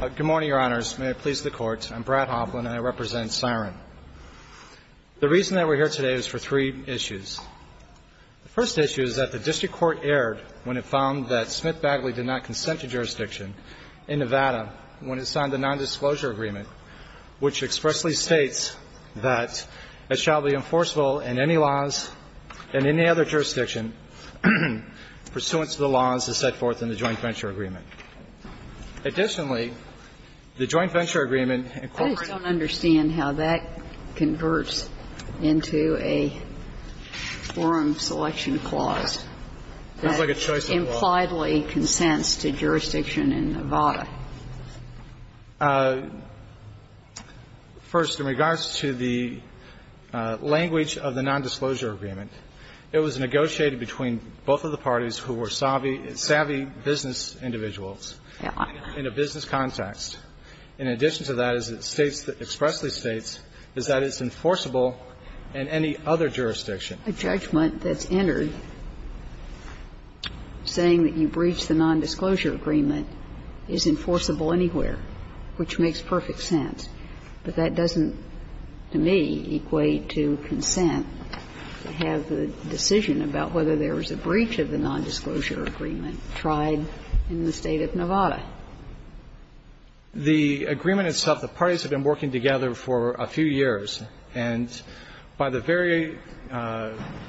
Good morning, Your Honors. May it please the Court. I'm Brad Hoffman and I represent Siren. The reason that we're here today is for three issues. The first issue is that the district court erred when it found that Simth Bagley did not consent to jurisdiction in Nevada when it signed the nondisclosure agreement, which expressly states that it shall be enforceable in any laws in any other jurisdiction pursuant to the laws as set forth in the joint venture agreement. Additionally, the joint venture agreement in corporate law I just don't understand how that converts into a forum selection clause that impliedly consents to jurisdiction in Nevada. First, in regards to the language of the nondisclosure agreement, it was negotiated between both of the parties who were savvy business individuals in a business context. In addition to that, as it states, expressly states, is that it's enforceable in any other jurisdiction. A judgment that's entered saying that you breach the nondisclosure agreement is enforceable anywhere, which makes perfect sense. But that doesn't, to me, equate to consent to have the decision about whether there was a breach of the nondisclosure agreement tried in the State of Nevada. The agreement itself, the parties have been working together for a few years. And by the very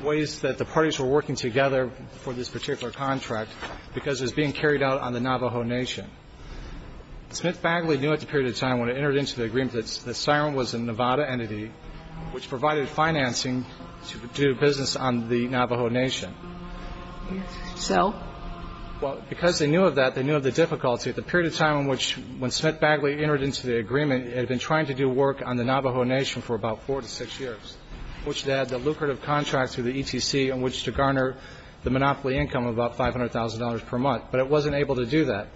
ways that the parties were working together for this particular contract, because it was being carried out on the Navajo Nation. Smith-Bagley knew at the period of time when it entered into the agreement that SIRM was a Nevada entity which provided financing to do business on the Navajo Nation. So? Well, because they knew of that, they knew of the difficulty. At the period of time in which when Smith-Bagley entered into the agreement, it had been trying to do work on the Navajo Nation for about four to six years, which they had the lucrative contracts through the ETC in which to garner the monopoly income of about $500,000 per month. But it wasn't able to do that.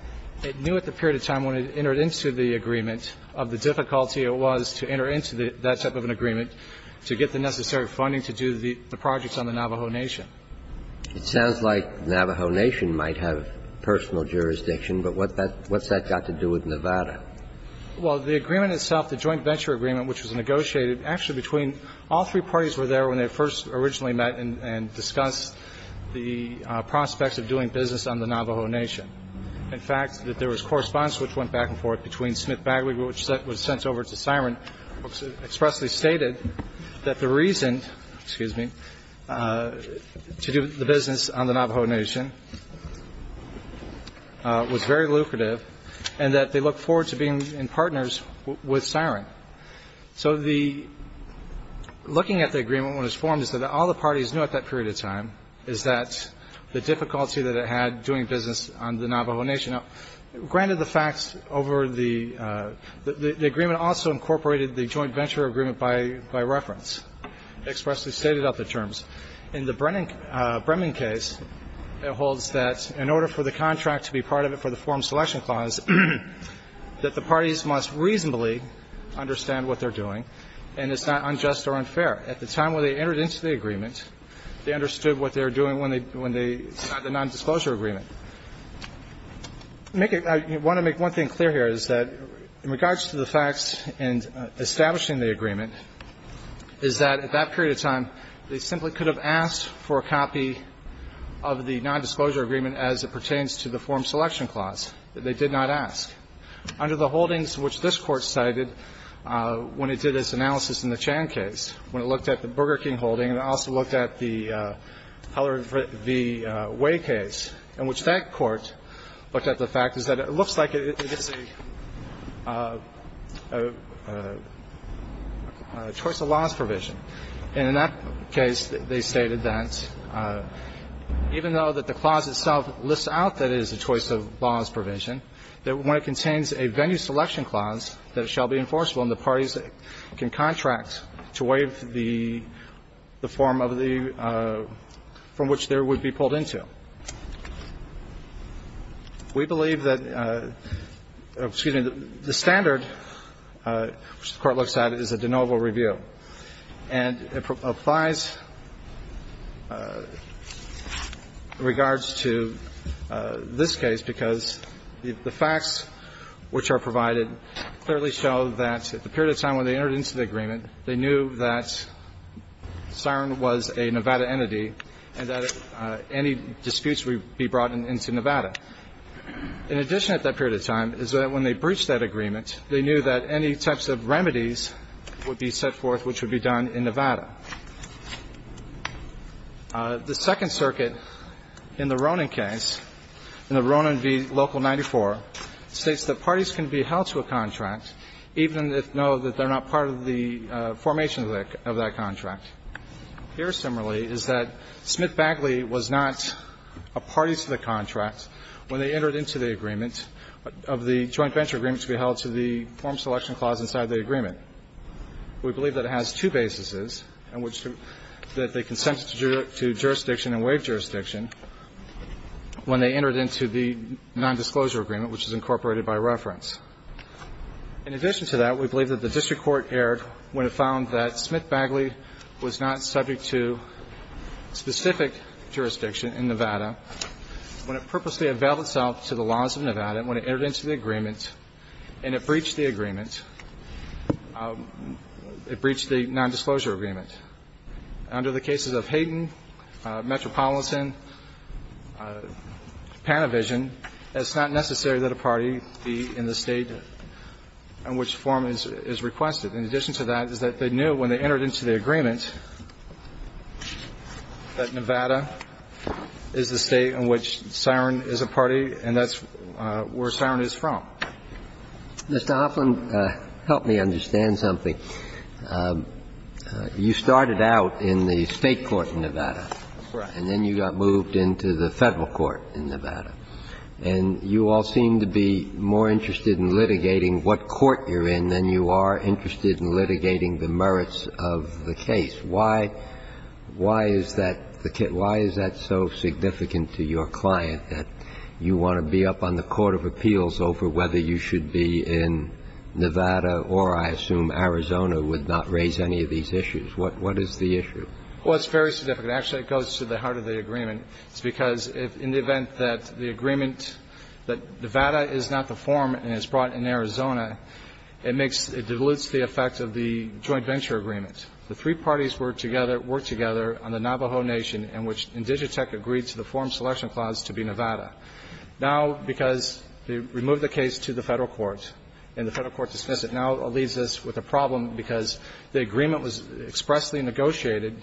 It knew at the period of time when it entered into the agreement of the difficulty it was to enter into that type of an agreement to get the necessary funding to do the projects on the Navajo Nation. It sounds like Navajo Nation might have personal jurisdiction, but what's that got to do with Nevada? Well, the agreement itself, the joint venture agreement which was negotiated actually between all three parties were there when they first originally met and discussed the prospects of doing business on the Navajo Nation. In fact, there was correspondence which went back and forth between Smith-Bagley which was sent over to SIRM and expressly stated that the reason, excuse me, to do the business on the Navajo Nation was very lucrative and that they looked forward to being in partners with SIRM. So the looking at the agreement when it was formed is that all the parties knew at that period of time is that the difficulty that it had doing business on the Navajo Nation. Granted the facts over the agreement also incorporated the joint venture agreement by reference, expressly stated out the terms. In the Bremen case, it holds that in order for the contract to be part of it for the selection clause that the parties must reasonably understand what they're doing and it's not unjust or unfair. At the time when they entered into the agreement, they understood what they were doing when they signed the nondisclosure agreement. I want to make one thing clear here is that in regards to the facts in establishing the agreement is that at that period of time, they simply could have asked for a copy of the nondisclosure agreement as it pertains to the form selection clause. They did not ask. Under the holdings which this Court cited when it did its analysis in the Chan case, when it looked at the Burger King holding and it also looked at the Heller v. Way case in which that Court looked at the fact is that it looks like it's a choice of laws provision. And in that case, they stated that even though that the clause itself lists out that it is a choice of laws provision, that when it contains a venue selection clause that it shall be enforceable and the parties can contract to waive the form of the from which there would be pulled into. We believe that the standard which the Court looks at is a de novo review. And it applies in regards to this case because the facts which are provided clearly show that at the period of time when they entered into the agreement, they knew that Siren was a Nevada entity and that any disputes would be brought into Nevada. In addition at that period of time is that when they breached that agreement, they knew that any types of remedies would be set forth which would be done in Nevada. The Second Circuit in the Ronan case, in the Ronan v. Local 94, states that parties can be held to a contract even if they know that they're not part of the formation of that contract. Here, similarly, is that Smith-Bagley was not a party to the contract when they entered into the agreement of the joint venture agreement to be held to the form selection clause inside the agreement. We believe that it has two basises in which they consented to jurisdiction and waived jurisdiction when they entered into the nondisclosure agreement, which is incorporated by reference. In addition to that, we believe that the district court erred when it found that it entered into the agreement and it breached the agreement. It breached the nondisclosure agreement. Under the cases of Hayden, Metropolitan, Panavision, it's not necessary that a party be in the state in which form is requested. In addition to that is that they knew when they entered into the agreement that Nevada is the state in which Siren is a party and that's where Siren is from. Mr. Hoffman, help me understand something. You started out in the state court in Nevada. Right. And then you got moved into the Federal court in Nevada. And you all seem to be more interested in litigating what court you're in than you are interested in litigating the merits of the case. Why is that so significant to your client that you want to be up on the court of appeals over whether you should be in Nevada or, I assume, Arizona would not raise any of these issues? What is the issue? Well, it's very significant. Actually, it goes to the heart of the agreement. It's because in the event that the agreement that Nevada is not the forum and it's brought in Arizona, it makes the effect of the joint venture agreement. The three parties work together on the Navajo Nation in which Indigitech agreed to the forum selection clause to be Nevada. Now, because they removed the case to the Federal court and the Federal court dismissed it, now it leaves us with a problem because the agreement was expressly negotiated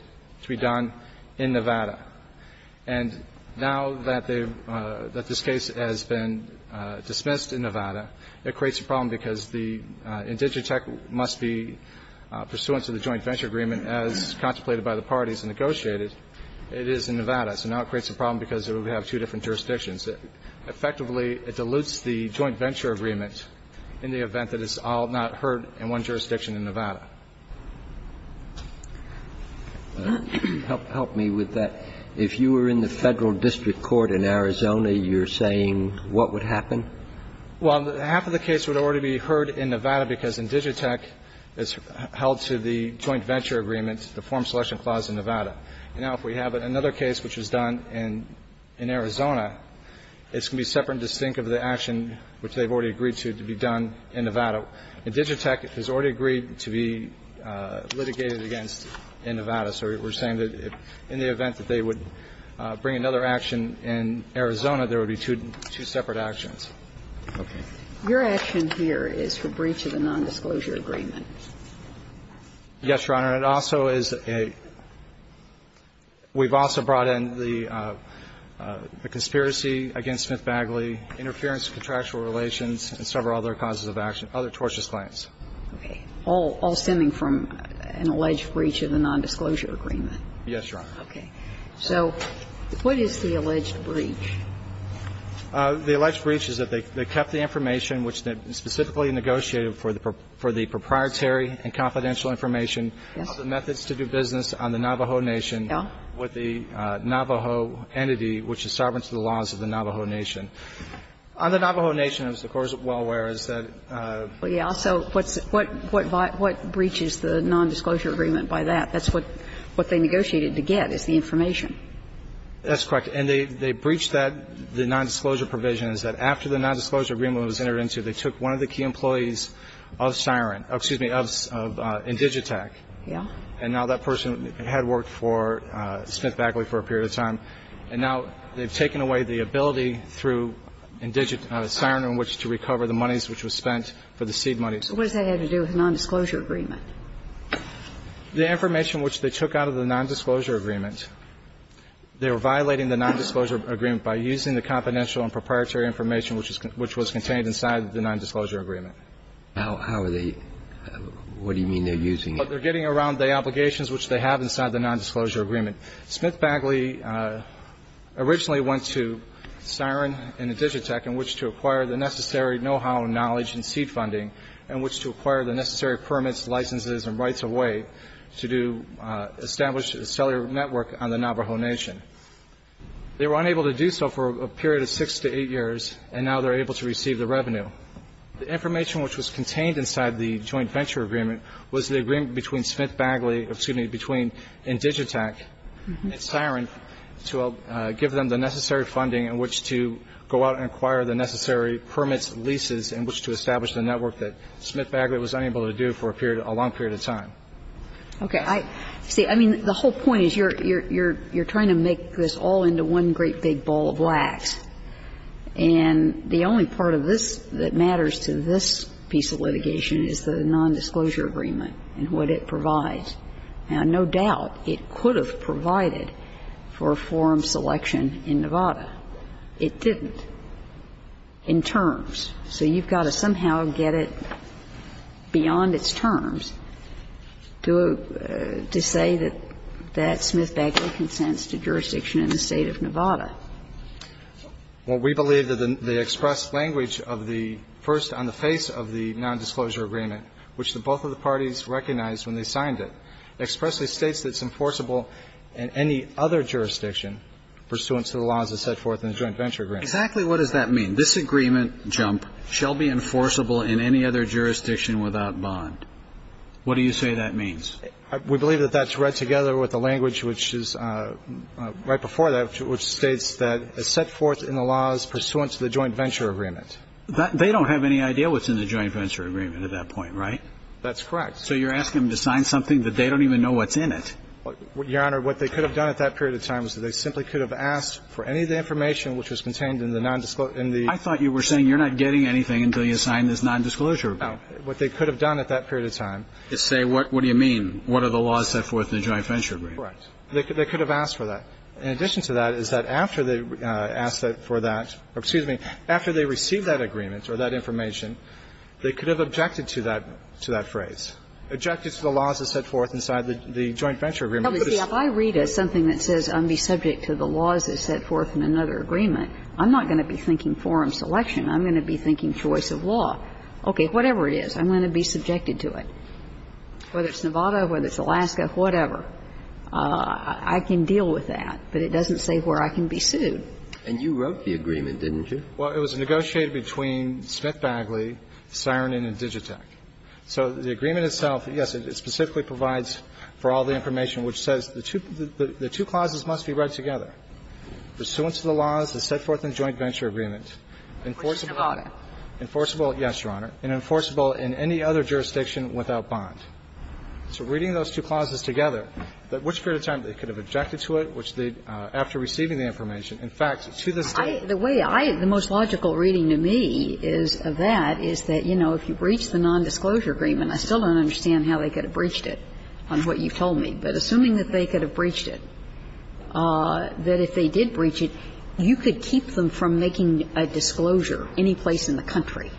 to be done in Nevada. And now that this case has been dismissed in Nevada, it creates a problem because the Indigitech must be pursuant to the joint venture agreement as contemplated by the parties and negotiated. It is in Nevada. So now it creates a problem because we have two different jurisdictions. Effectively, it dilutes the joint venture agreement in the event that it's all not heard in one jurisdiction in Nevada. Help me with that. If you were in the Federal district court in Arizona, you're saying what would happen? Well, half of the case would already be heard in Nevada because Indigitech has held to the joint venture agreement, the forum selection clause in Nevada. And now if we have another case which was done in Arizona, it's going to be separate and distinct of the action which they've already agreed to be done in Nevada. Indigitech has already agreed to be litigated against in Nevada. So we're saying that in the event that they would bring another action in Arizona, there would be two separate actions. Okay. Your action here is for breach of the nondisclosure agreement. Yes, Your Honor. It also is a – we've also brought in the conspiracy against Smith Bagley, interference in contractual relations, and several other causes of action, other tortious claims. Okay. All stemming from an alleged breach of the nondisclosure agreement. Yes, Your Honor. Okay. So what is the alleged breach? The alleged breach is that they kept the information which they specifically negotiated for the proprietary and confidential information of the methods to do business on the Navajo Nation with the Navajo entity which is sovereign to the laws of the Navajo Nation. On the Navajo Nation, of course, well, where is that? Well, yeah. So what's – what breaches the nondisclosure agreement by that? That's what they negotiated to get, is the information. That's correct. And they breached that, the nondisclosure provisions, that after the nondisclosure agreement was entered into, they took one of the key employees of SIREN – excuse me, of Indigitech. Yeah. And now that person had worked for Smith Bagley for a period of time, and now they've taken away the ability through Indigitech, SIREN, in which to recover the monies which was spent for the seed money. So what does that have to do with the nondisclosure agreement? The information which they took out of the nondisclosure agreement, they were violating the nondisclosure agreement by using the confidential and proprietary information which was contained inside the nondisclosure agreement. How are they – what do you mean they're using it? They're getting around the obligations which they have inside the nondisclosure agreement. Smith Bagley originally went to SIREN and Indigitech in which to acquire the necessary know-how, knowledge, and seed funding in which to acquire the necessary permits, licenses, and rights of way to establish a cellular network on the Navajo Nation. They were unable to do so for a period of six to eight years, and now they're able to receive the revenue. The information which was contained inside the joint venture agreement was the agreement between Smith Bagley – excuse me, between Indigitech and SIREN to give them the necessary funding in which to go out and acquire the necessary permits, leases in which to establish the network that Smith Bagley was unable to do for a period, a long period of time. Okay. See, I mean, the whole point is you're trying to make this all into one great big ball of wax, and the only part of this that matters to this piece of litigation is the nondisclosure agreement and what it provides. Now, no doubt it could have provided for forum selection in Nevada. It didn't in terms. So you've got to somehow get it beyond its terms to say that that Smith Bagley consents to jurisdiction in the State of Nevada. Well, we believe that the expressed language of the first on the face of the nondisclosure agreement, which both of the parties recognized when they signed it, expressly states that it's enforceable in any other jurisdiction pursuant to the laws as set forth in the joint venture agreement. Exactly what does that mean? This agreement, Jump, shall be enforceable in any other jurisdiction without bond. What do you say that means? We believe that that's read together with the language which is right before that, which states that it's set forth in the laws pursuant to the joint venture agreement. They don't have any idea what's in the joint venture agreement at that point, right? That's correct. So you're asking them to sign something that they don't even know what's in it? Your Honor, what they could have done at that period of time is they simply could have asked for any of the information which was contained in the nondisclosure agreement. I thought you were saying you're not getting anything until you sign this nondisclosure agreement. No. What they could have done at that period of time is say, what do you mean? What are the laws set forth in the joint venture agreement? Correct. They could have asked for that. In addition to that, is that after they asked for that or, excuse me, after they received that agreement or that information, they could have objected to that phrase, objected to the laws that are set forth inside the joint venture agreement. If I read something that says I'm going to be subject to the laws that are set forth in another agreement, I'm not going to be thinking forum selection. I'm going to be thinking choice of law. Okay, whatever it is, I'm going to be subjected to it, whether it's Nevada, whether it's Alaska, whatever. I can deal with that. But it doesn't say where I can be sued. And you wrote the agreement, didn't you? Well, it was negotiated between Smith Bagley, Siren Inn, and Digitech. So the agreement itself, yes, it specifically provides for all the information which says the two clauses must be read together. Pursuant to the laws that are set forth in the joint venture agreement, enforceable in Nevada. Enforceable, yes, Your Honor, and enforceable in any other jurisdiction without bond. So reading those two clauses together, which period of time they could have objected to it, which they, after receiving the information, in fact, to this day. I, the way I, the most logical reading to me is, of that, is that, you know, if you breach the nondisclosure agreement, I still don't understand how they could have breached it on what you've told me. But assuming that they could have breached it, that if they did breach it, you could keep them from making a disclosure anyplace in the country.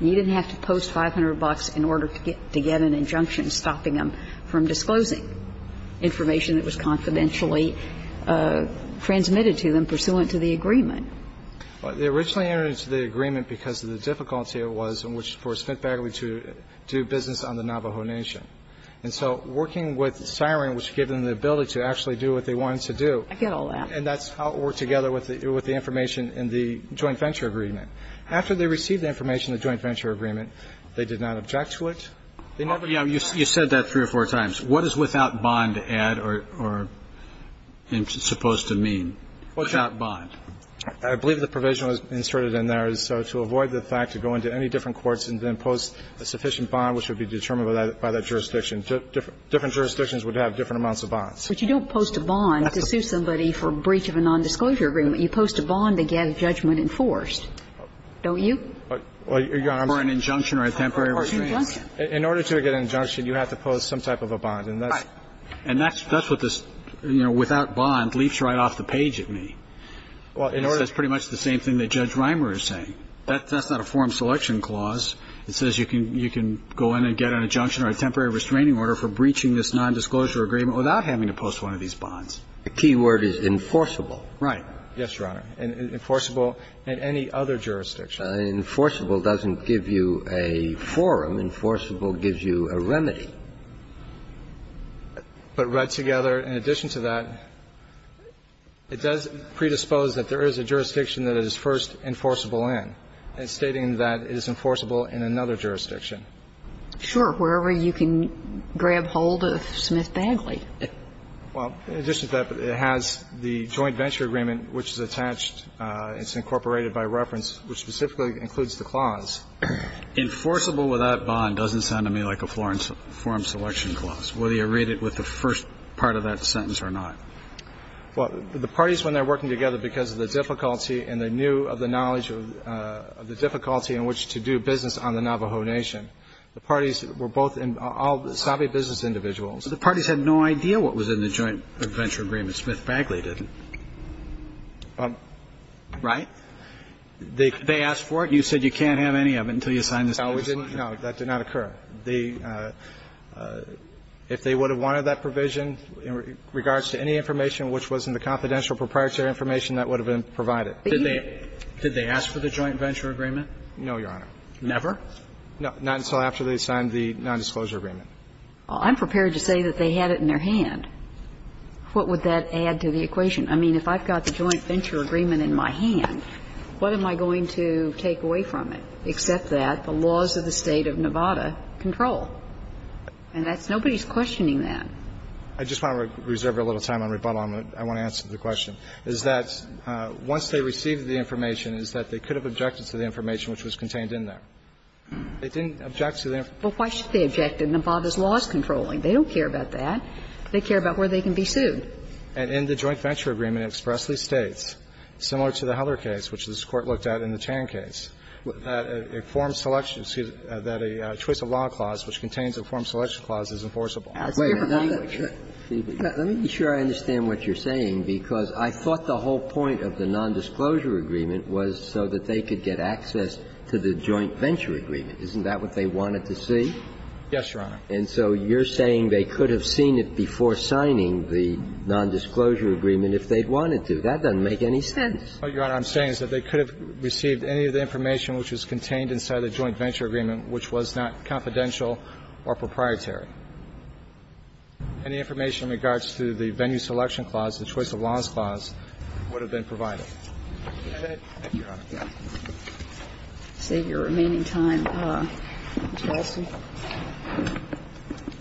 You didn't have to post 500 bucks in order to get an injunction stopping them from disclosing information that was confidentially transmitted to them pursuant to the agreement. They originally entered into the agreement because of the difficulty it was in which for Smith Bagley to do business on the Navajo Nation. And so working with Siren, which gave them the ability to actually do what they wanted to do. I get all that. And that's how it worked together with the information in the joint venture agreement. After they received the information in the joint venture agreement, they did not object to it. They never did. Roberts. You said that three or four times. What is without bond add or supposed to mean? Without bond. I believe the provision was inserted in there. So to avoid the fact to go into any different courts and then post a sufficient bond, which would be determined by that jurisdiction. Different jurisdictions would have different amounts of bonds. But you don't post a bond to sue somebody for breach of a nondisclosure agreement. You post a bond to get a judgment enforced. Don't you? For an injunction or a temporary restraint. In order to get an injunction, you have to post some type of a bond. And that's what this, you know, without bond, leaps right off the page at me. It's pretty much the same thing that Judge Rimer is saying. That's not a form selection clause. It says you can go in and get an injunction or a temporary restraining order for breaching this nondisclosure agreement without having to post one of these bonds. The key word is enforceable. Right. Yes, Your Honor. And enforceable in any other jurisdiction. Enforceable doesn't give you a forum. Enforceable gives you a remedy. But read together, in addition to that, it does predispose that there is a jurisdiction that is first enforceable in, stating that it is enforceable in another jurisdiction. Sure. Wherever you can grab hold of Smith-Bagley. Well, in addition to that, it has the joint venture agreement, which is attached and it's incorporated by reference, which specifically includes the clause. Enforceable without bond doesn't sound to me like a forum selection clause, whether you read it with the first part of that sentence or not. Well, the parties, when they're working together because of the difficulty and they knew of the knowledge of the difficulty in which to do business on the Navajo Nation, the parties were both savvy business individuals. But the parties had no idea what was in the joint venture agreement. Smith-Bagley didn't. Right? They asked for it. You said you can't have any of it until you sign this case. No, that did not occur. If they would have wanted that provision in regards to any information which was in the confidential proprietary information, that would have been provided. Did they ask for the joint venture agreement? No, Your Honor. Never? Not until after they signed the nondisclosure agreement. Well, I'm prepared to say that they had it in their hand. What would that add to the equation? I mean, if I've got the joint venture agreement in my hand, what am I going to take away from it except that the laws of the State of Nevada control? And that's nobody's questioning that. I just want to reserve a little time on rebuttal. I want to answer the question. Is that once they received the information, is that they could have objected to the information which was contained in there? They didn't object to the information. Well, why should they object to Nevada's laws controlling? They don't care about that. They care about where they can be sued. And in the joint venture agreement, it expressly states, similar to the Heller case, which this Court looked at in the Tan case, that a form selection, excuse me, that a choice of law clause which contains a form selection clause is enforceable. Wait a minute. Let me be sure I understand what you're saying, because I thought the whole point of the nondisclosure agreement was so that they could get access to the joint venture agreement. Isn't that what they wanted to see? Yes, Your Honor. And so you're saying they could have seen it before signing the nondisclosure agreement if they'd wanted to. That doesn't make any sense. What, Your Honor, I'm saying is that they could have received any of the information which was contained inside the joint venture agreement which was not confidential or proprietary. Any information in regards to the venue selection clause, the choice of laws clause, would have been provided. Thank you, Your Honor. Thank you. I'll save your remaining time. Mr. Alston.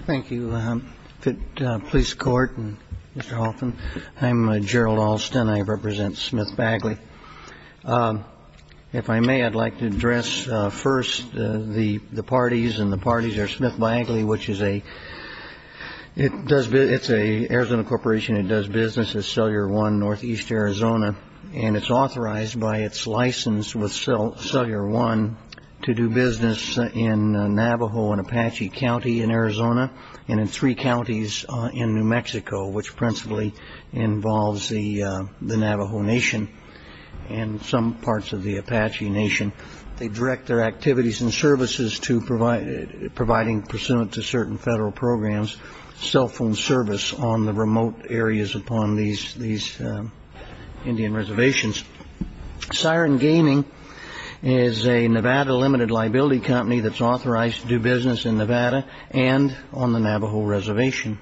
Thank you, Police Court and Mr. Hoffman. I'm Gerald Alston. I represent Smith-Bagley. If I may, I'd like to address first the parties, and the parties are Smith-Bagley, which is a – it does business – it's an Arizona corporation. It does business as Cellular One Northeast Arizona. And it's authorized by its license with Cellular One to do business in Navajo and Apache County in Arizona and in three counties in New Mexico, which principally involves the Navajo Nation and some parts of the Apache Nation. They direct their activities and services to providing, pursuant to certain federal programs, cell phone service on the remote areas upon these Indian reservations. Siren Gaming is a Nevada limited liability company that's authorized to do business in Nevada and on the Navajo Reservation.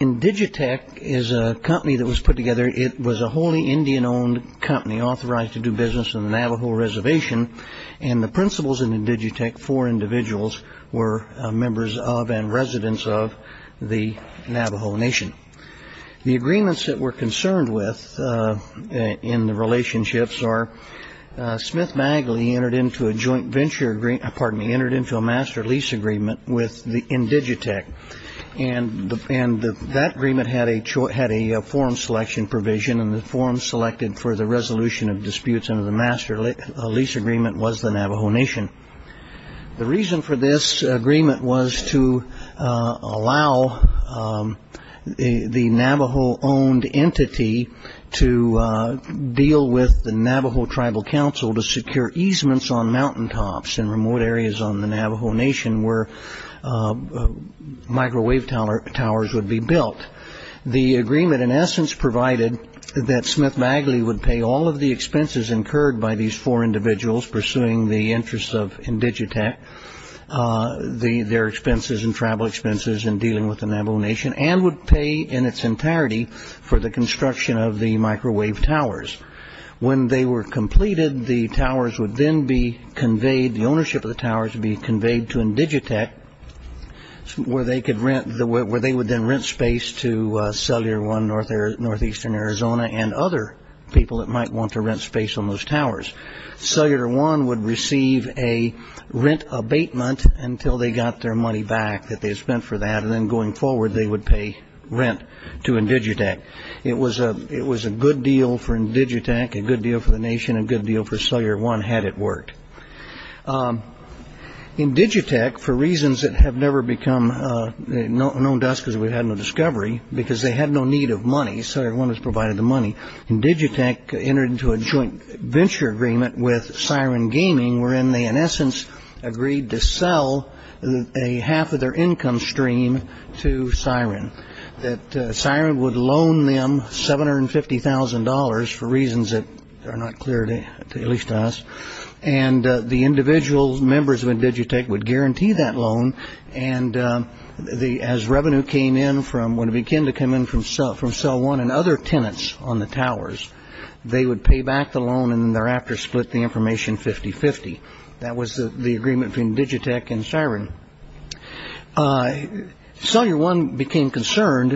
Indigitech is a company that was put together. It was a wholly Indian-owned company authorized to do business on the Navajo Reservation, and the principals in Indigitech, four individuals, were members of and residents of the Navajo Nation. The agreements that we're concerned with in the relationships are Smith-Bagley entered into a joint venture – pardon me – entered into a master lease agreement with Indigitech, and that agreement had a form selection provision, and the form selected for the resolution of disputes under the master lease agreement was the Navajo Nation. The reason for this agreement was to allow the Navajo-owned entity to deal with the Navajo Tribal Council to secure easements on mountaintops in remote areas on the Navajo Nation where microwave towers would be built. The agreement, in essence, provided that Smith-Bagley would pay all of the expenses incurred by these four individuals pursuing the interests of Indigitech, their expenses and tribal expenses in dealing with the Navajo Nation, and would pay in its entirety for the construction of the microwave towers. When they were completed, the ownership of the towers would be conveyed to Indigitech, where they would then rent space to Cellular One Northeastern Arizona and other people that might want to rent space on those towers. Cellular One would receive a rent abatement until they got their money back that they had spent for that, and then going forward they would pay rent to Indigitech. It was a good deal for Indigitech, a good deal for the Nation, a good deal for Cellular One had it worked. Indigitech, for reasons that have never become known to us because we've had no discovery, because they had no need of money, Cellular One was provided the money, Indigitech entered into a joint venture agreement with Siren Gaming, wherein they, in essence, agreed to sell a half of their income stream to Siren. Siren would loan them $750,000 for reasons that are not clear to at least us, and the individual members of Indigitech would guarantee that loan, and as revenue came in from when it began to come in from Cellular One and other tenants on the towers, they would pay back the loan and thereafter split the information 50-50. That was the agreement between Indigitech and Siren. Cellular One became concerned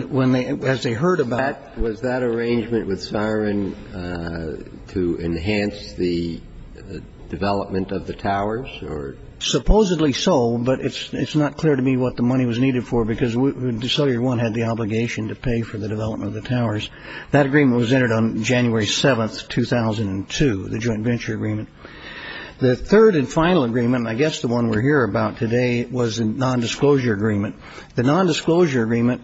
as they heard about it. Was there an arrangement with Siren to enhance the development of the towers? Supposedly so, but it's not clear to me what the money was needed for because Cellular One had the obligation to pay for the development of the towers. That agreement was entered on January 7, 2002, the joint venture agreement. The third and final agreement, and I guess the one we're here about today, was a nondisclosure agreement. The nondisclosure agreement,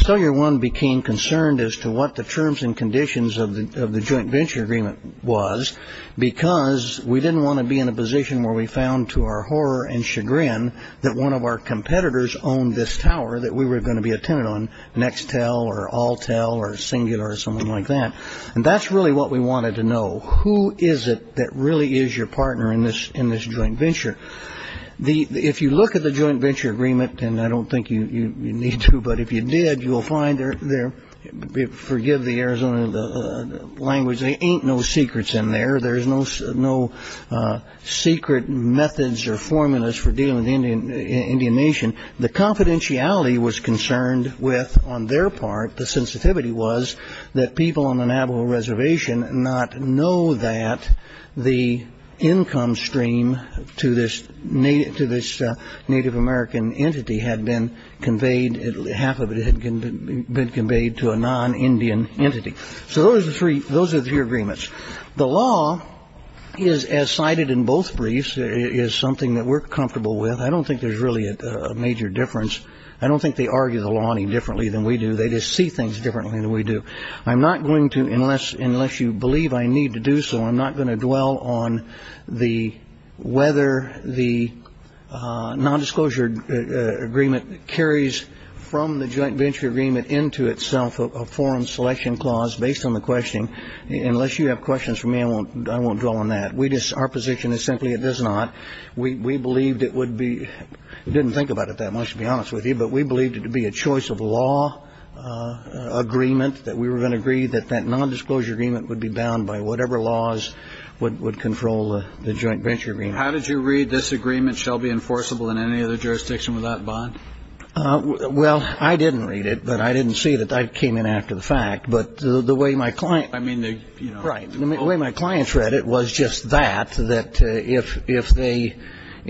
Cellular One became concerned as to what the terms and conditions of the joint venture agreement was because we didn't want to be in a position where we found to our horror and chagrin that one of our competitors owned this tower that we were going to be a tenant on, Nextel or Altel or Singular or something like that, and that's really what we wanted to know. Who is it that really is your partner in this joint venture? If you look at the joint venture agreement, and I don't think you need to, but if you did, forgive the Arizona language, there ain't no secrets in there. There's no secret methods or formulas for dealing with the Indian nation. The confidentiality was concerned with, on their part, the sensitivity was that people on the Navajo Reservation not know that the income stream to this Native American entity had been conveyed, half of it had been conveyed to a non-Indian entity. So those are the three agreements. The law is, as cited in both briefs, is something that we're comfortable with. I don't think there's really a major difference. I don't think they argue the law any differently than we do. They just see things differently than we do. I'm not going to, unless you believe I need to do so, I'm not going to dwell on whether the nondisclosure agreement carries from the joint venture agreement into itself a forum selection clause based on the questioning. Unless you have questions for me, I won't dwell on that. Our position is simply it does not. We believed it would be, didn't think about it that much, to be honest with you, but we believed it to be a choice of law agreement that we were going to agree that that nondisclosure agreement would be bound by whatever laws would control the joint venture agreement. How did you read this agreement shall be enforceable in any other jurisdiction without bond? Well, I didn't read it, but I didn't see that. I came in after the fact. But the way my client, right, the way my clients read it was just that,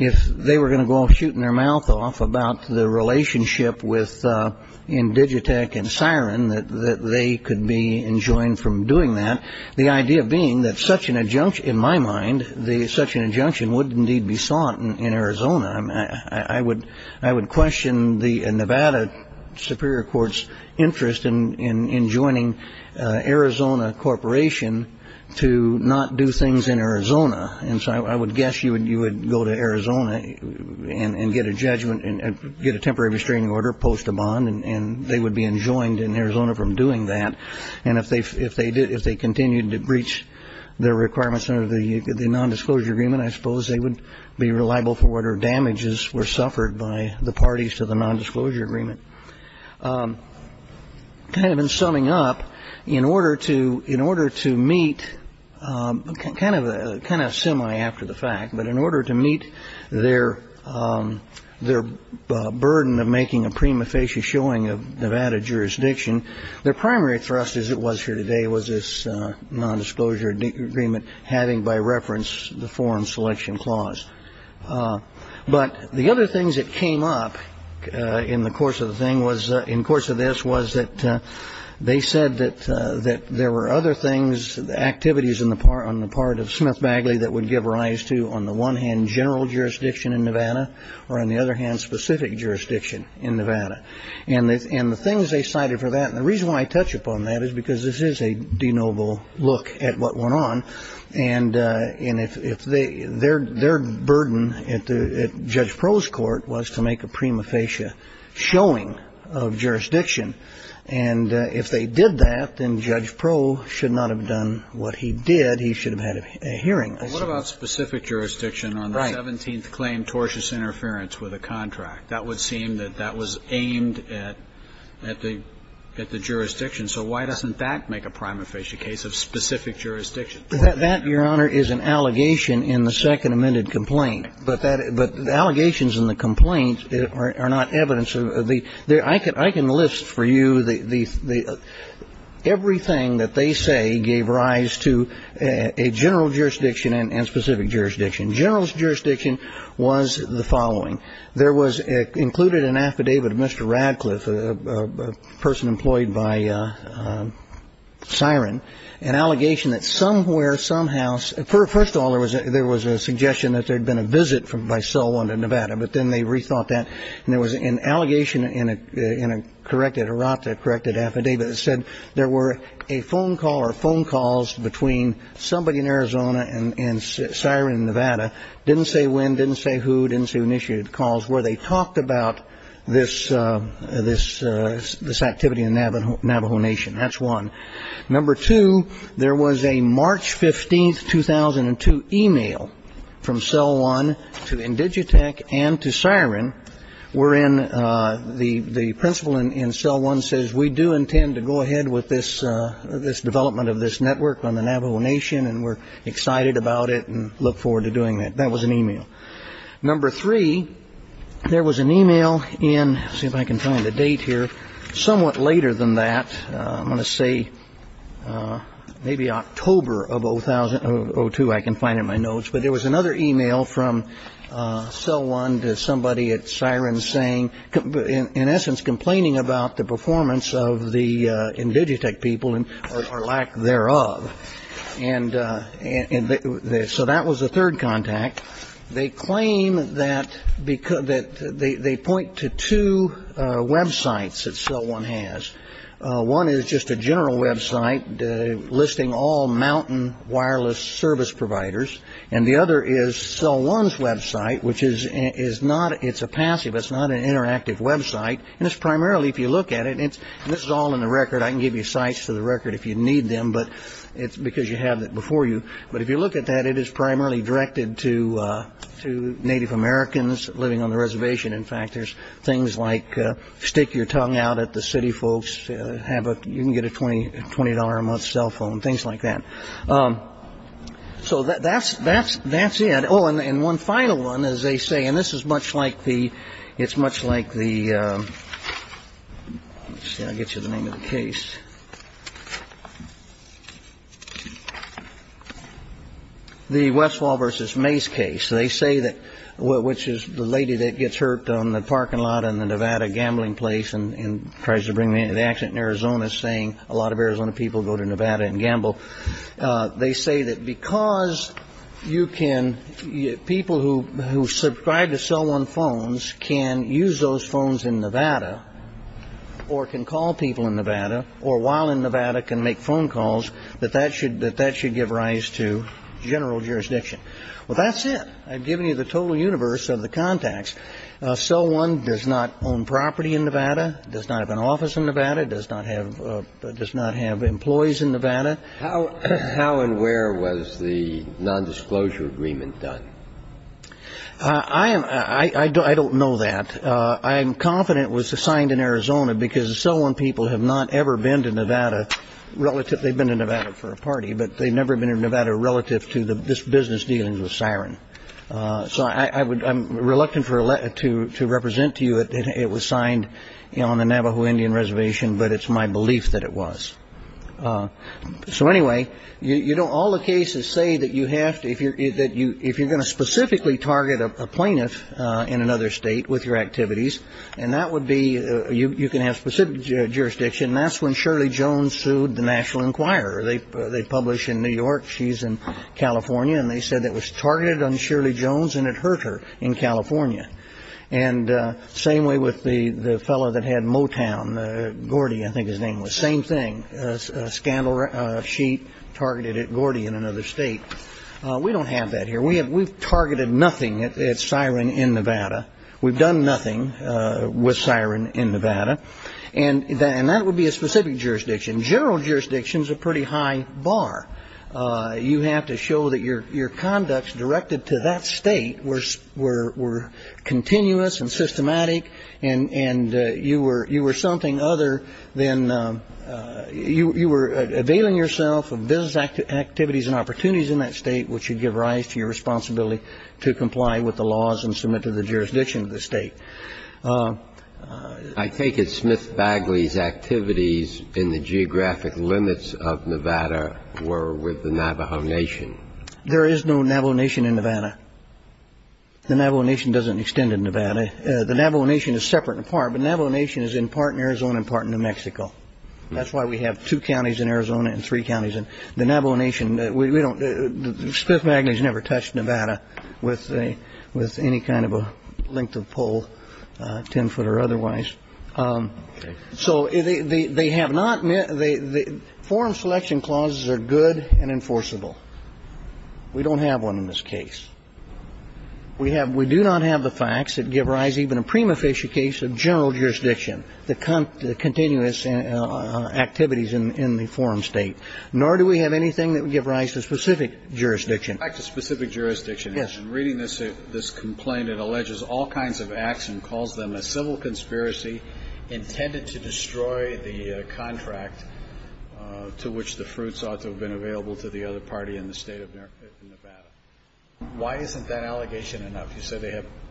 if they were going to go shooting their mouth off about the relationship with Indigitec and Siren, that they could be enjoined from doing that. The idea being that such an injunction, in my mind, such an injunction would indeed be sought in Arizona. I would question the Nevada Superior Court's interest in joining Arizona Corporation to not do things in Arizona. And so I would guess you would go to Arizona and get a judgment and get a temporary restraining order post a bond, and they would be enjoined in Arizona from doing that. And if they continued to breach their requirements under the nondisclosure agreement, I suppose they would be reliable for whatever damages were suffered by the parties to the nondisclosure agreement. Kind of in summing up, in order to meet, kind of semi after the fact, but in order to meet their burden of making a prima facie showing of Nevada jurisdiction, their primary thrust, as it was here today, was this nondisclosure agreement having by reference the Foreign Selection Clause. But the other things that came up in the course of the thing was, in course of this, was that they said that there were other things, activities on the part of Smith-Bagley, that would give rise to, on the one hand, general jurisdiction in Nevada, or on the other hand, specific jurisdiction in Nevada. And the things they cited for that, and the reason why I touch upon that is because this is a denoble look at what went on. And if they, their burden at Judge Proh's court was to make a prima facie showing of jurisdiction. And if they did that, then Judge Proh should not have done what he did. He should have had a hearing. But what about specific jurisdiction on the 17th claim, tortious interference with a contract? That would seem that that was aimed at the jurisdiction. So why doesn't that make a prima facie case of specific jurisdiction? That, Your Honor, is an allegation in the second amended complaint. But allegations in the complaint are not evidence. I can list for you everything that they say gave rise to a general jurisdiction and specific jurisdiction. General jurisdiction was the following. There was included an affidavit of Mr. Radcliffe, a person employed by SIREN, an allegation that somewhere, somehow, first of all, there was a suggestion that there had been a visit by SOLE onto Nevada, but then they rethought that. And there was an allegation in a corrected, a ROTA-corrected affidavit that said there were a phone call or phone calls between somebody in Arizona and SIREN in Nevada, didn't say when, didn't say who, didn't say who initiated the calls, where they talked about this activity in Navajo Nation. That's one. Number two, there was a March 15, 2002, e-mail from CEL1 to Indigitech and to SIREN wherein the principal in CEL1 says, we do intend to go ahead with this development of this network on the Navajo Nation, and we're excited about it and look forward to doing that. That was an e-mail. Number three, there was an e-mail in, let's see if I can find the date here, somewhat later than that, I'm going to say maybe October of 2002, I can find in my notes, but there was another e-mail from CEL1 to somebody at SIREN saying, in essence, complaining about the performance of the Indigitech people or lack thereof. And so that was the third contact. They claim that they point to two websites that CEL1 has. One is just a general website listing all mountain wireless service providers, and the other is CEL1's website, which is not, it's a passive, it's not an interactive website, and it's primarily, if you look at it, and this is all in the record, I can give you sites for the record if you need them, but it's because you have it before you. But if you look at that, it is primarily directed to Native Americans living on the reservation. In fact, there's things like stick your tongue out at the city folks, have a, you can get a $20 a month cell phone, things like that. So that's it. Oh, and one final one, as they say, and this is much like the, it's much like the, let's see, I'll get you the name of the case, the Westfall v. Mace case. They say that, which is the lady that gets hurt on the parking lot in the Nevada gambling place and tries to bring me into the accident in Arizona saying a lot of Arizona people go to Nevada and gamble. They say that because you can, people who subscribe to CEL1 phones can use those phones in Nevada or can call people in Nevada or while in Nevada can make phone calls, that that should give rise to general jurisdiction. Well, that's it. I've given you the total universe of the contacts. CEL1 does not own property in Nevada, does not have an office in Nevada, does not have, does not have employees in Nevada. How and where was the nondisclosure agreement done? I am, I don't know that. I'm confident it was signed in Arizona because CEL1 people have not ever been to Nevada relative, they've been to Nevada for a party, but they've never been to Nevada relative to this business dealing with siren. So I would, I'm reluctant to represent to you that it was signed on the Navajo Indian reservation, but it's my belief that it was. So anyway, you know, all the cases say that you have to, if you're going to specifically target a plaintiff in another state with your activities, and that would be, you can have specific jurisdiction, and that's when Shirley Jones sued the National Enquirer. They publish in New York, she's in California, and they said it was targeted on Shirley Jones and it hurt her in California. And same way with the fellow that had Motown, Gordy I think his name was, same thing, a scandal sheet targeted at Gordy in another state. We don't have that here. We've targeted nothing at siren in Nevada. We've done nothing with siren in Nevada. And that would be a specific jurisdiction. General jurisdiction is a pretty high bar. You have to show that your conducts directed to that state were continuous and systematic and you were something other than, you were availing yourself of business activities and opportunities in that state which would give rise to your responsibility to comply with the laws and submit to the jurisdiction of the state. I take it Smith-Bagley's activities in the geographic limits of Nevada were with the Navajo Nation. There is no Navajo Nation in Nevada. The Navajo Nation doesn't extend in Nevada. The Navajo Nation is separate and apart, but Navajo Nation is in part in Arizona and part in New Mexico. That's why we have two counties in Arizona and three counties in the Navajo Nation. Smith-Bagley's never touched Nevada with any kind of a length of pole, ten foot or otherwise. So they have not met the forum selection clauses are good and enforceable. We don't have one in this case. We do not have the facts that give rise even to a prima facie case of general jurisdiction, the continuous activities in the forum state, nor do we have anything that would give rise to specific jurisdiction. Back to specific jurisdiction. Yes. Reading this complaint, it alleges all kinds of acts and calls them a civil conspiracy intended to destroy the contract to which the fruits ought to have been available to the other party in the state of Nevada. Why isn't that allegation enough?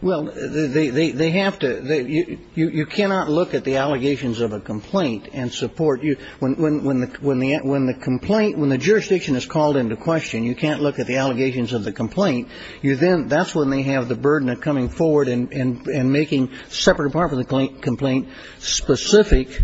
Well, they have to. You cannot look at the allegations of a complaint and support. When the complaint, when the jurisdiction is called into question, you can't look at the allegations of the complaint. That's when they have the burden of coming forward and making separate or part of the complaint specific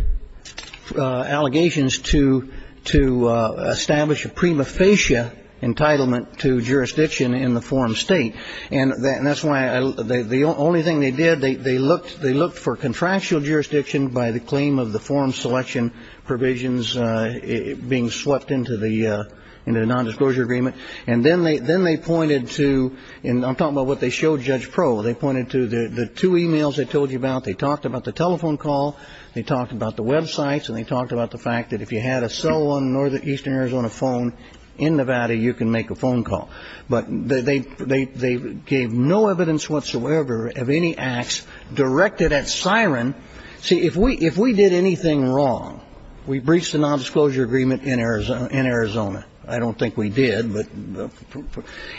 allegations to establish a prima facie entitlement to jurisdiction in the forum state. And that's why the only thing they did, they looked for contractual jurisdiction by the claim of the forum selection provisions being swept into the nondisclosure agreement. And then they pointed to, and I'm talking about what they showed Judge Pro. They pointed to the two e-mails I told you about. They talked about the telephone call. They talked about the Web sites. And they talked about the fact that if you had a cell on northeastern Arizona phone in Nevada, you can make a phone call. But they gave no evidence whatsoever of any acts directed at SIREN. See, if we did anything wrong, we breached the nondisclosure agreement in Arizona. I don't think we did. But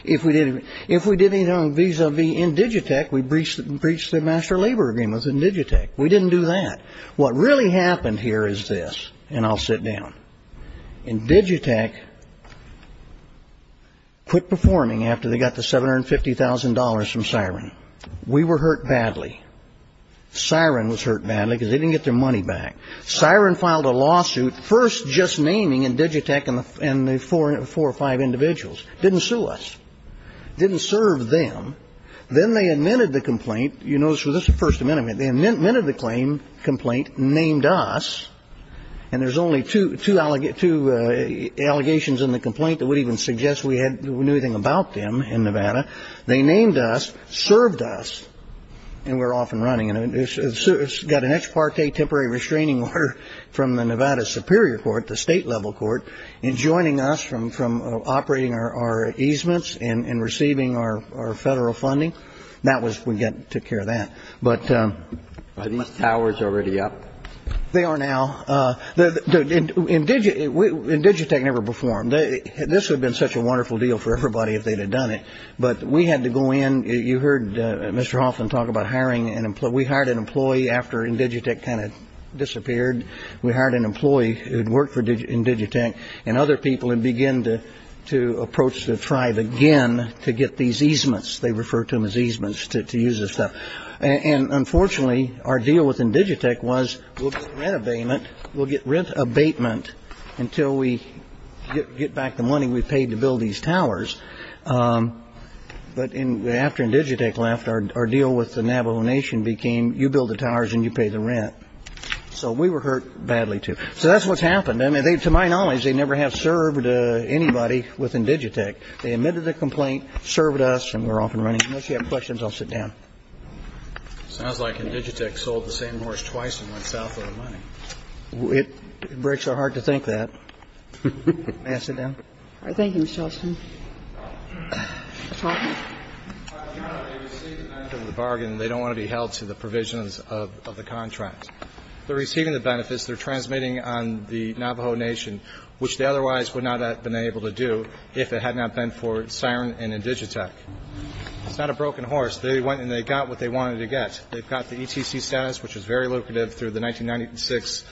if we did anything vis-a-vis Indigitech, we breached the master labor agreement with Indigitech. We didn't do that. What really happened here is this, and I'll sit down. Indigitech quit performing after they got the $750,000 from SIREN. We were hurt badly. SIREN was hurt badly because they didn't get their money back. SIREN filed a lawsuit first just naming Indigitech and the four or five individuals. Didn't sue us. Didn't serve them. Then they amended the complaint. You notice this is the First Amendment. They amended the complaint, named us, and there's only two allegations in the complaint that would even suggest we knew anything about them in Nevada. They named us, served us, and we're off and running. It's got an ex parte temporary restraining order from the Nevada Superior Court, the state-level court, enjoining us from operating our easements and receiving our federal funding. We took care of that. Are these towers already up? They are now. Indigitech never performed. This would have been such a wonderful deal for everybody if they had done it, but we had to go in. You heard Mr. Hoffman talk about hiring an employee. We hired an employee after Indigitech kind of disappeared. We hired an employee who had worked for Indigitech and other people and began to approach the tribe again to get these easements. They refer to them as easements to use this stuff. And unfortunately, our deal with Indigitech was we'll get rent abatement until we get back the money we paid to build these towers. But after Indigitech left, our deal with the Navajo Nation became you build the towers and you pay the rent. So we were hurt badly, too. So that's what's happened. I mean, to my knowledge, they never have served anybody with Indigitech. They admitted a complaint, served us, and we're off and running. Unless you have questions, I'll sit down. It sounds like Indigitech sold the same horse twice and went south with the money. It breaks our heart to think that. May I sit down? Thank you, Mr. Hoffman. Mr. Hoffman. No, they received the benefits of the bargain. They don't want to be held to the provisions of the contract. They're receiving the benefits. They're transmitting on the Navajo Nation, which they otherwise would not have been able to do if it had not been for SIRN and Indigitech. It's not a broken horse. They went and they got what they wanted to get. They've got the ETC status, which is very lucrative, through the 1996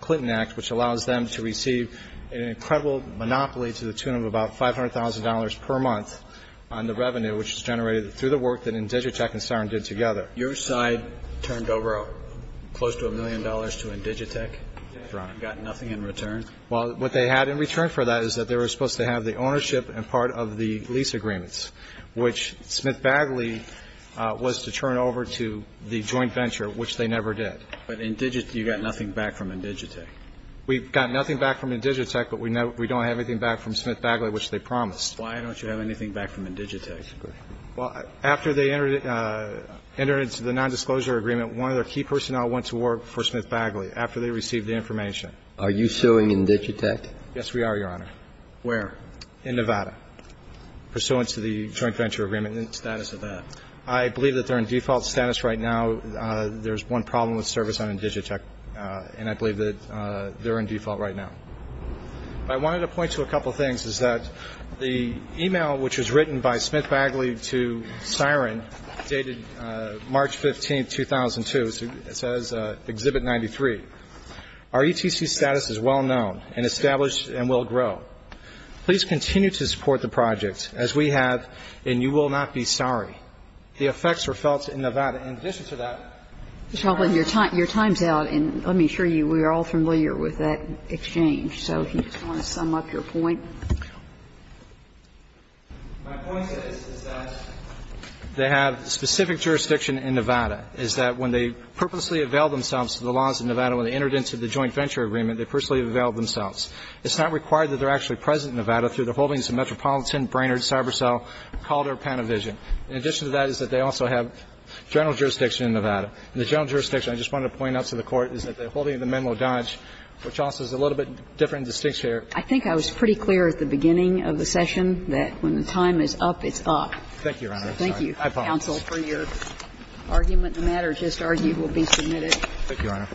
Clinton Act, which allows them to receive an incredible monopoly to the tune of about $500,000 per month on the revenue, which is generated through the work that Indigitech and SIRN did together. Your side turned over close to a million dollars to Indigitech and got nothing in return? Well, what they had in return for that is that they were supposed to have the ownership and part of the lease agreements, which Smith-Bagley was to turn over to the joint venture, which they never did. But Indigitech, you got nothing back from Indigitech. We got nothing back from Indigitech, but we don't have anything back from Smith-Bagley, which they promised. Why don't you have anything back from Indigitech? Well, after they entered into the nondisclosure agreement, one of their key personnel went to work for Smith-Bagley after they received the information. Are you suing Indigitech? Yes, we are, Your Honor. Where? In Nevada, pursuant to the joint venture agreement. And the status of that? I believe that they're in default status right now. There's one problem with service on Indigitech, and I believe that they're in default right now. I wanted to point to a couple of things, is that the e-mail which was written by Smith-Bagley to Siren, dated March 15, 2002, says, Exhibit 93, Our ETC status is well known and established and will grow. Please continue to support the project, as we have, and you will not be sorry. The effects were felt in Nevada. In addition to that, I'm sure you're all familiar with that exchange. So if you just want to sum up your point. My point is, is that they have specific jurisdiction in Nevada, is that when they purposely availed themselves to the laws in Nevada, when they entered into the joint venture agreement, they personally availed themselves. It's not required that they're actually present in Nevada through the holdings of Metropolitan, Brainerd, CyberCell, Calder, Panavision. In addition to that is that they also have general jurisdiction in Nevada. And the general jurisdiction, I just wanted to point out to the Court, is that the holding of the memo Dodge, which also is a little bit different in distinction here. I think I was pretty clear at the beginning of the session that when the time is up, it's up. Thank you, Your Honor. Thank you, counsel, for your argument. Thank you, Your Honor.